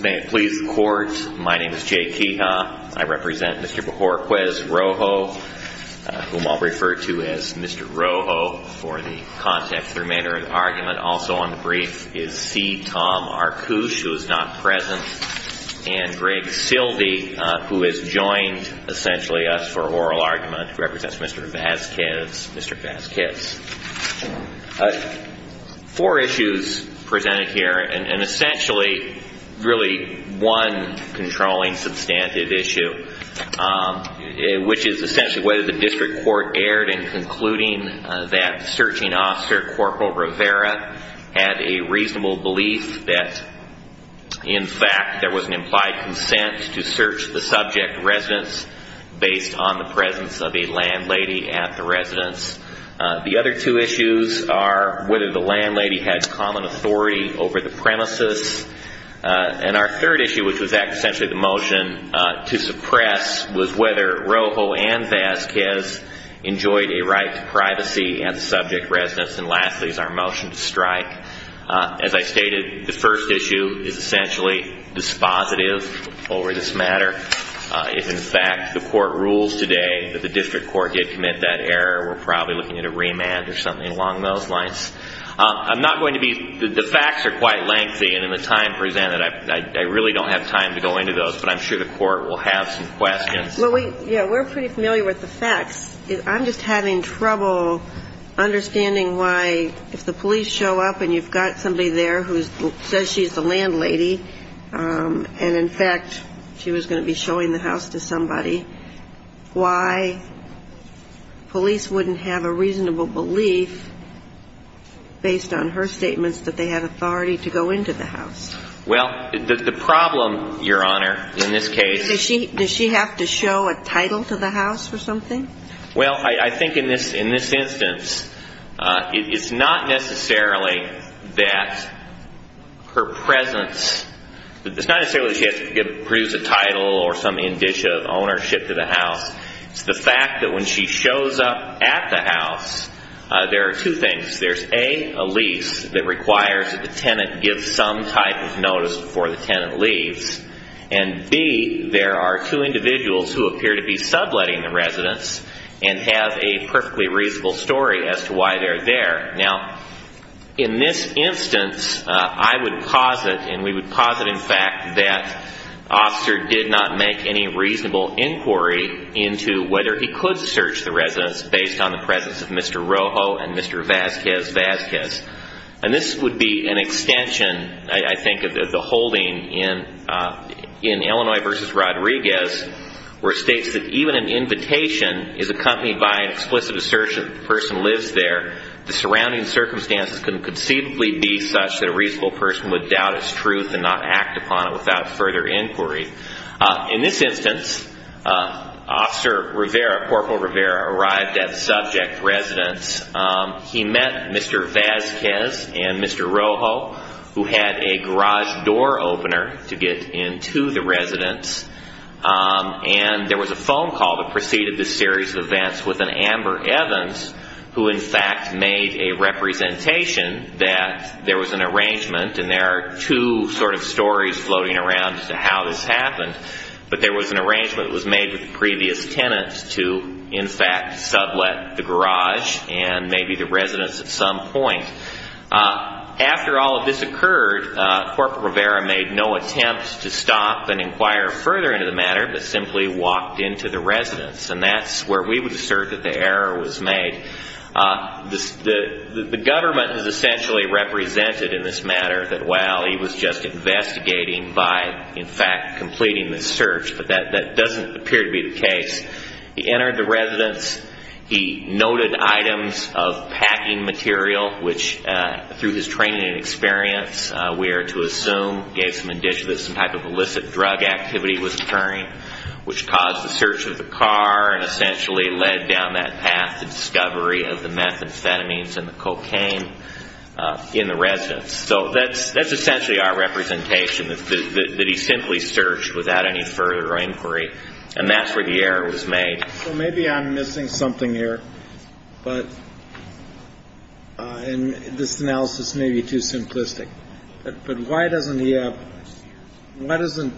May it please the Court, my name is Jay Keha. I represent Mr. Bojorquez-Rojo, whom I'll refer to as Mr. Rojo for the context of the remainder of the argument. Also on the brief is C. Tom Arkush, who is not present, and Greg Silvey, who has joined, essentially, us for oral argument, who represents Mr. Vasquez, Mr. Vasquez. Four issues presented here, and essentially, really, one controlling substantive issue, which is essentially whether the District Court erred in concluding that Searching Officer Corporal Rivera had a reasonable belief that, in fact, there was an implied consent to search the subject residence based on the presence of a landlady at the residence. The other two issues are whether the landlady had common authority over the premises. And our third issue, which was essentially the motion to suppress, was whether Rojo and Vasquez enjoyed a right to privacy at the subject residence. And lastly is our motion to strike. As I stated, the first issue is essentially dispositive over this matter. If, in fact, the Court rules today that the District Court did commit that error, we're probably looking at a remand or something along those lines. I'm not going to be, the facts are quite lengthy, and in the time presented, I really don't have time to go into those, but I'm sure the Court will have some questions. Well, we, yeah, we're pretty familiar with the facts. I'm just having trouble understanding why, if the police show up and you've got somebody there who says she's the landlady, and, in fact, she was going to be showing the house to somebody, why police wouldn't have a reasonable belief, based on her statements, that they had authority to go into the house? Well, the problem, Your Honor, in this case... Does she have to show a title to the house or something? Well, I think in this instance, it's not necessarily that her presence, it's not necessarily that she has to produce a title or some indicia of ownership to the house. It's the fact that when she shows up at the house, there are two things. There's, A, a lease that requires that the tenant give some type of notice before the tenant leaves, and, B, there are two individuals who appear to be subletting the residence and have a perfectly reasonable story as to why they're there. Now, in this instance, I would posit, and we would posit, in fact, that Officer did not make any reasonable inquiry into whether he could search the residence based on the presence of Mr. Rojo and Mr. Vazquez-Vazquez. And this would be an extension, I think, of the holding in Illinois v. Rodriguez, where it states that even an invitation is accompanied by an explicit assertion that the person lives there, the surrounding circumstances can conceivably be such that a reasonable person would doubt its truth and not act upon it without further inquiry. In this instance, Officer Rivera, Corporal Rivera, arrived at the subject residence. He met Mr. Vazquez and Mr. Rojo, who had a garage door opener to get into the residence, and there was a phone call that preceded this series of events with an Amber Evans, who, in fact, made a representation that there was an arrangement and there are two sort of stories floating around as to how this happened, but there the garage and maybe the residence at some point. After all of this occurred, Corporal Rivera made no attempt to stop and inquire further into the matter, but simply walked into the residence, and that's where we would assert that the error was made. The government has essentially represented in this matter that, well, he was just investigating by, in fact, completing the search, but that doesn't appear to be the case. He entered the residence He noted items of packing material, which, through his training and experience, we are to assume gave some indication that some type of illicit drug activity was occurring, which caused the search of the car and essentially led down that path to discovery of the methamphetamines and the cocaine in the residence. So that's essentially our representation, that he simply searched without any further inquiry, and that's where the error was made. So maybe I'm missing something here, but this analysis may be too simplistic, but why doesn't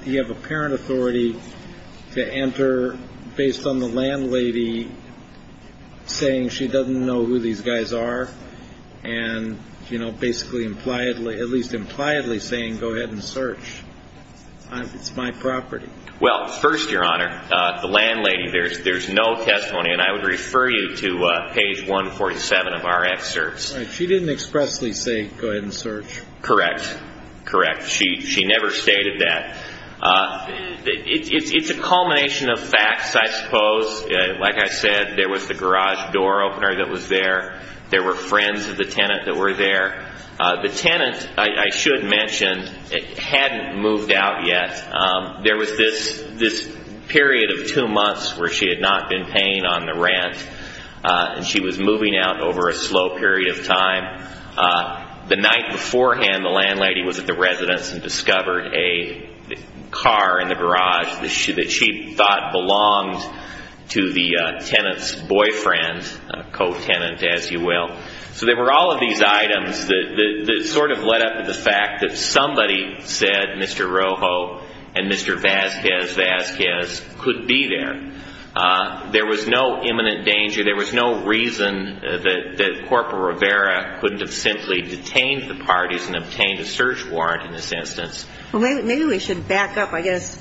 he have apparent authority to enter based on the landlady saying she doesn't know who these guys are and basically, at least impliedly saying, go ahead and search. It's my property. Well, first, Your Honor, the landlady, there's no testimony, and I would refer you to page 147 of our excerpts. She didn't expressly say, go ahead and search. Correct. Correct. She never stated that. It's a culmination of facts, I suppose. Like I said, there was the garage door opener that was there. There were friends of the tenant that were there. The tenant, I should mention, hadn't moved out yet. There was this period of two months where she had not been paying on the rent, and she was moving out over a slow period of time. The night beforehand, the landlady was at the residence and discovered a car in the garage that she thought belonged to the tenant's boyfriend, a co-tenant, as it were. There were all of these items that sort of led up to the fact that somebody said Mr. Rojo and Mr. Vasquez Vasquez could be there. There was no imminent danger. There was no reason that Corporal Rivera couldn't have simply detained the parties and obtained a search warrant in this instance. Maybe we should back up. I guess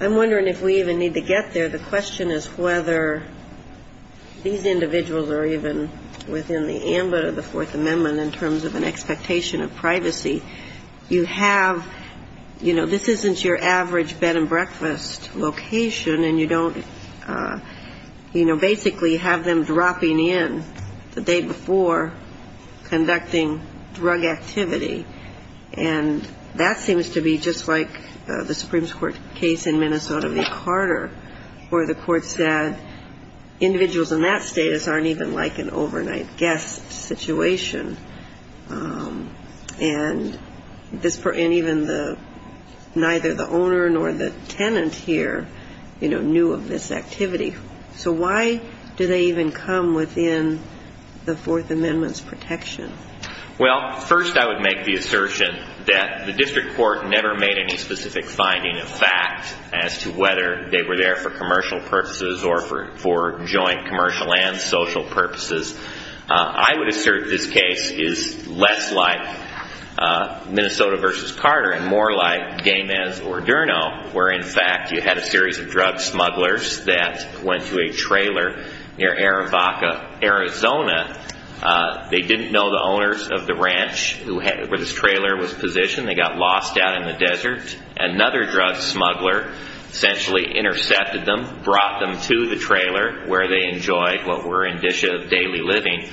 I'm wondering if we even need to get there. The question is whether these individuals are even within the ambit of the Fourth Amendment in terms of an expectation of privacy. You have, you know, this isn't your average bed and breakfast location, and you don't, you know, basically have them dropping in the day before conducting drug activity. And that seems to be just like the Supreme Court case in Minnesota v. Carter where the court said individuals in that status aren't even like an overnight guest situation. And this, and even the, neither the owner nor the tenant here, you know, knew of this activity. So why do they even come within the Fourth Amendment's protection? Well, first I would make the assertion that the district court never made any specific finding of fact as to whether they were there for commercial purposes or for joint commercial and social purposes. I would assert this case is less like Minnesota v. Carter and more like Gaines or Aderno where, in fact, you had a series of drug smugglers that went to a trailer near Arivaca, Arizona. They didn't know the owners of the ranch where this trailer was positioned. They got lost out in the desert. Another drug smuggler essentially intercepted them, brought them to the trailer where they enjoyed what were in dishes of daily living.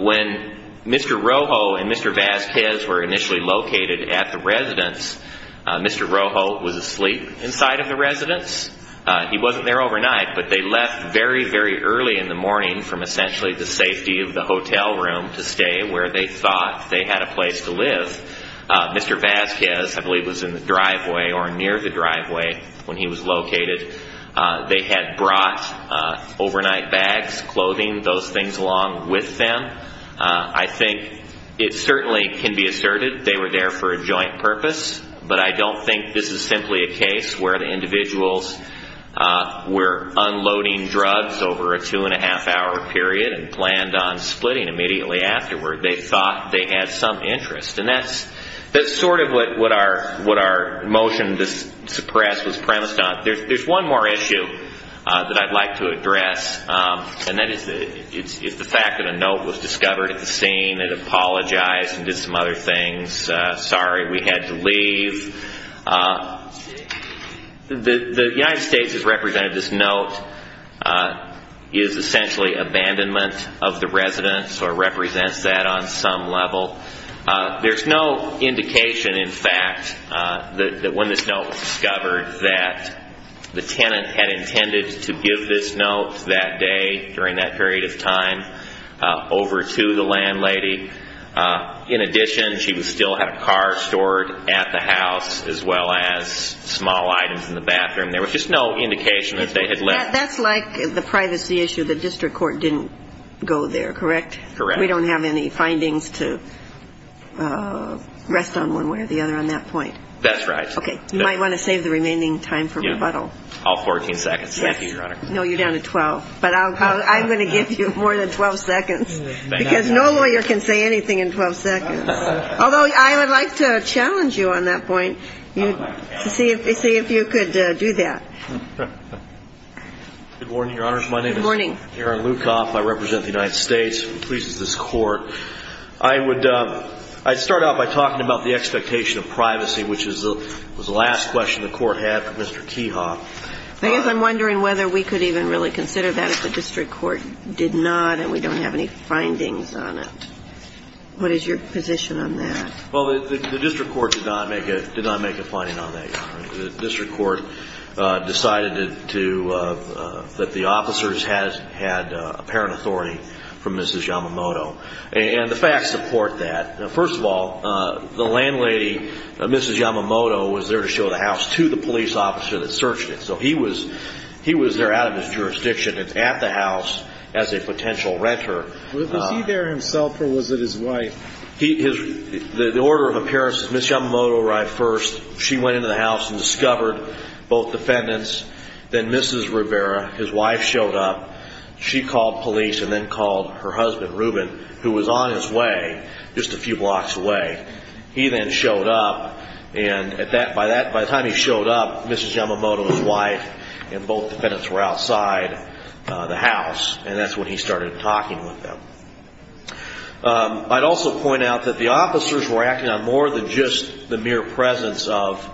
When Mr. Rojo and Mr. Vasquez were initially located at the residence, Mr. Rojo was asleep inside of the residence. He wasn't there overnight, but they left very, very early in the morning from essentially the safety of the hotel room to stay where they thought they had a place to live. Mr. Vasquez, I believe, was in the driveway or near the driveway when he was located. They had brought overnight bags, clothing, those things along with them. I think it certainly can be asserted they were there for a joint purpose, but I don't think this is simply a case where the individuals were unloading drugs over a two-and-a-half hour period and planned on splitting immediately afterward. They thought they had some interest. That's sort of what our motion to suppress was premised on. There's one more issue that I'd like to address. That is the fact that a note was discovered at the scene. It apologized and did some other things. Sorry, we had to leave. The United States Department of Health and Human Services, I believe, was responsible for the abandonment of the residence or represents that on some level. There's no indication, in fact, that when this note was discovered that the tenant had intended to give this note that day during that period of time over to the landlady. In addition, she still had a car stored at the house as well as small items in the bathroom. There was just no indication that they had left. That's like the privacy issue. The district court didn't go there, correct? Correct. We don't have any findings to rest on one way or the other on that point. That's right. Okay. You might want to save the remaining time for rebuttal. All 14 seconds. Thank you, Your Honor. No, you're down to 12. But I'm going to give you more than 12 seconds because no lawyer can say anything in 12 seconds. Although I would like to challenge you on that point Good morning, Your Honors. My name is Aaron Lukoff. I represent the United States. I'm pleased with this Court. I would start out by talking about the expectation of privacy, which was the last question the Court had for Mr. Keha. I guess I'm wondering whether we could even really consider that if the district court did not and we don't have any findings on it. What is your position on that? Well, the district court did not make a finding on that, Your Honor. The district court decided that the officers had apparent authority from Mrs. Yamamoto. And the facts support that. First of all, the landlady, Mrs. Yamamoto, was there to show the house to the police officer that searched it. So he was there out of his jurisdiction at the house as a potential renter. Was he there himself or was it his wife? The order of appearance is that Mrs. Yamamoto arrived first. She went into the house and discovered both defendants. Then Mrs. Rivera, his wife, showed up. She called police and then called her husband, Reuben, who was on his way just a few blocks away. He then showed up. And by the time he showed up, Mrs. Yamamoto, his wife, and both defendants were outside the house. And that's when he started talking with them. I'd also point out that the officers were acting on more than just the mere presence of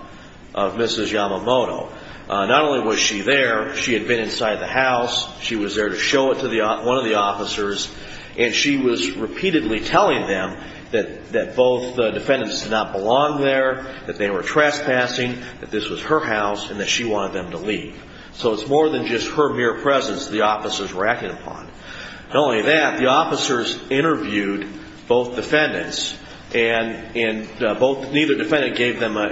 Mrs. Yamamoto. Not only was she there, she had been inside the house, she was there to show it to one of the officers, and she was repeatedly telling them that both defendants did not belong there, that they were trespassing, that this was her house, and that she wanted them to leave. So it's more than just her mere presence the officers were acting upon. Not only that, the officers interviewed both defendants and neither defendant gave them a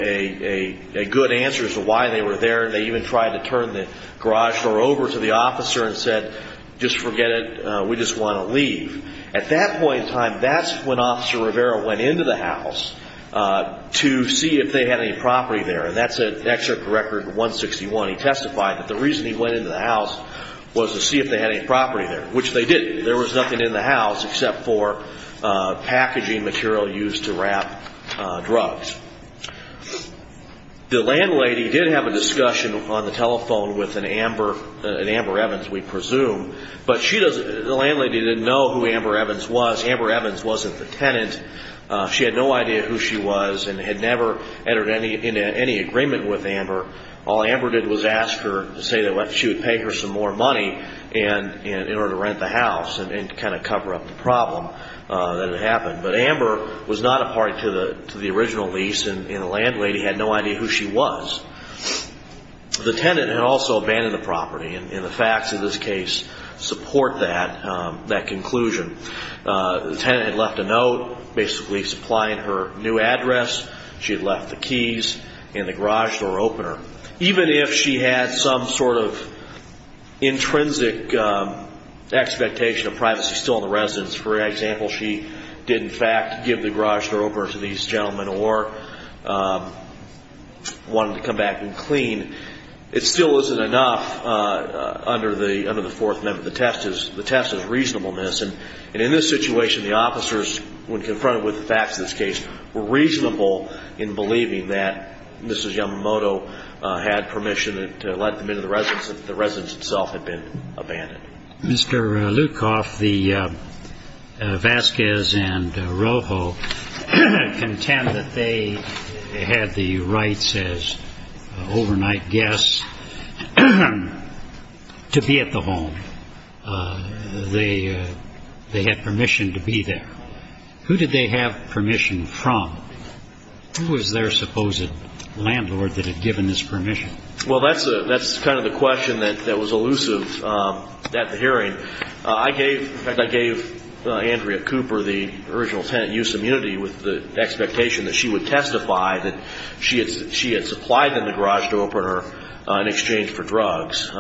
good answer as to why they were there. They even tried to turn the garage door over to the officer and said, just forget it, we just want to leave. At that point in time, that's when Officer Rivera went into the house to see if they had any property there. And that's an excerpt from Record 161. He testified that the reason he went into the house was to see if they had any property there, which they didn't. There was nothing in the house except for packaging material used to wrap drugs. The landlady did have a discussion on the telephone with an Amber Evans, we presume, but the landlady didn't know who Amber Evans was. Amber Evans wasn't the tenant. She had no idea who she was and had never entered into any agreement with Amber. All Amber did was ask her to say that she would pay her some more money in order to rent the house and kind of cover up the problem that had happened. But Amber was not a part to the original lease and the landlady had no idea who she was. The tenant had also abandoned the property and the facts of this case support that conclusion. The tenant had left a note basically supplying her new address. She had left the keys and the garage door opener. Even if she had some sort of intrinsic expectation of privacy still in the residence, for example, she did in fact give the garage door opener to these gentlemen or wanted to come back and clean, it still isn't enough under the Fourth Amendment. The test is reasonableness. And in this situation, the officers, when confronted with the facts of this case, were reasonable in believing that Mrs. Yamamoto had permission to let them into the residence if the residence itself had been abandoned. Mr. Lukoff, the Vasquez and Rojo contend that they had the rights as overnight guests to be at the home. They had permission to be there. Who did they have permission from? Who was their supposed landlord that had given this permission? Well, that's kind of the question that was elusive at the hearing. I gave Andrea Cooper the original tenant use immunity with the expectation that she would testify that she had supplied them the garage door opener in exchange for drugs.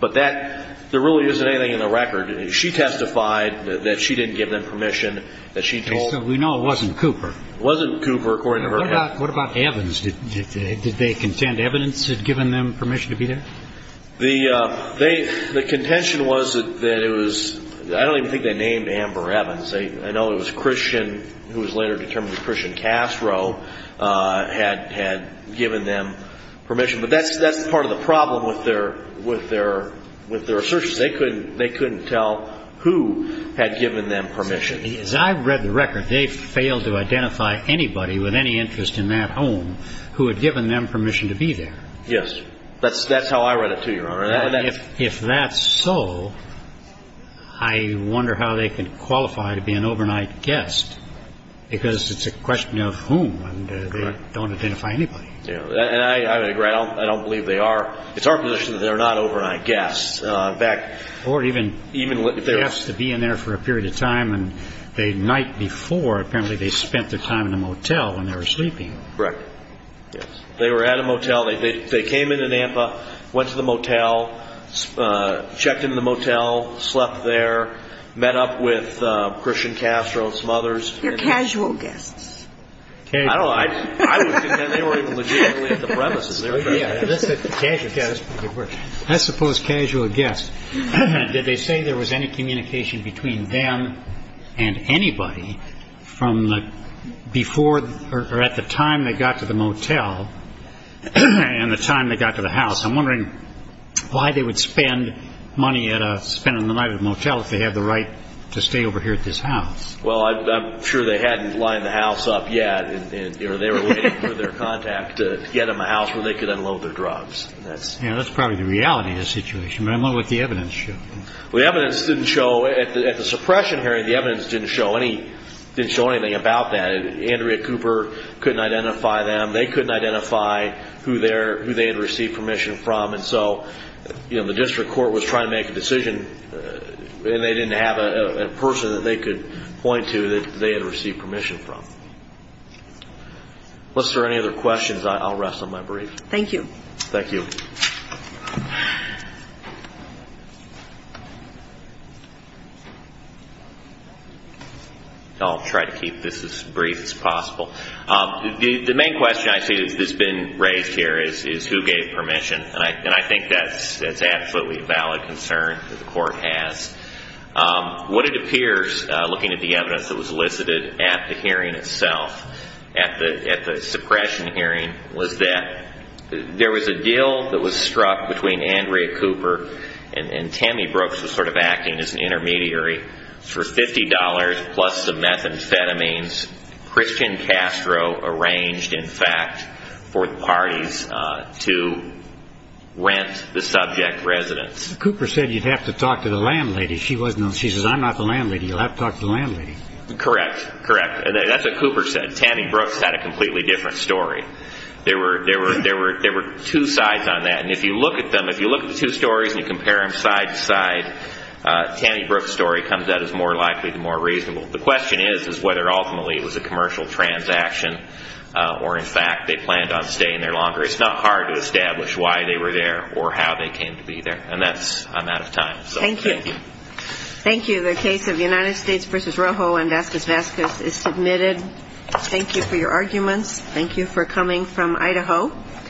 But there really isn't anything in the record. She testified that she didn't give them permission, that she told them. We know it wasn't Cooper. It wasn't Cooper, according to her. What about Evans? Did they contend evidence had given them permission to be there? The contention was that it was – I don't even think they named Amber Evans. I know it was Christian, who was later determined to be Christian Casro, had given them permission. But that's part of the problem with their assertion. They couldn't tell who had given them permission. As I've read the record, they failed to identify anybody with any interest in that home who had given them permission to be there. Yes. That's how I read it too, Your Honor. If that's so, I wonder how they could qualify to be an overnight guest because it's a question of whom and they don't identify anybody. I agree. I don't believe they are. It's our position that they're not overnight guests. Or even guests to be in there for a period of time, and the night before apparently they spent their time in a motel when they were sleeping. Correct. Yes. They were at a motel. They came into Nampa, went to the motel, checked in the motel, slept there, met up with Christian Casro and some others. They're casual guests. I don't know. I would contend they weren't even legitimately at the premises. They're casual guests. I suppose casual guests. Did they say there was any communication between them and anybody from before or at the time they got to the motel and the time they got to the house? I'm wondering why they would spend money at a motel if they had the right to stay over here at this house. Well, I'm sure they hadn't lined the house up yet. They were waiting for their contact to get them a house where they could unload their drugs. That's probably the reality of the situation. I'm wondering what the evidence showed. The evidence didn't show at the suppression hearing. The evidence didn't show anything about that. Andrea Cooper couldn't identify them. They couldn't identify who they had received permission from. The district court was trying to make a decision, and they didn't have a person that they could point to that they had received permission from. Unless there are any other questions, I'll rest on my brief. Thank you. Thank you. I'll try to keep this as brief as possible. The main question I see that's been raised here is who gave permission, and I think that's absolutely a valid concern that the court has. What it appears, looking at the evidence that was elicited at the hearing itself, at the suppression hearing was that there was a deal that was struck between Andrea Cooper and Tammy Brooks was sort of acting as an intermediary for $50 plus the methamphetamines. Christian Castro arranged, in fact, for the parties to rent the subject residence. Cooper said you'd have to talk to the landlady. She says, I'm not the landlady. You'll have to talk to the landlady. Correct. Correct. That's what Cooper said. Tammy Brooks had a completely different story. There were two sides on that, and if you look at them, if you look at the two stories and you compare them side to side, Tammy Brooks' story comes out as more likely to be more reasonable. The question is whether ultimately it was a commercial transaction or, in fact, they planned on staying there longer. It's not hard to establish why they were there or how they came to be there, and I'm out of time. Thank you. Thank you. The case of United States v. Rojo and Vasquez-Vasquez is submitted. Thank you for your arguments. Thank you for coming from Idaho.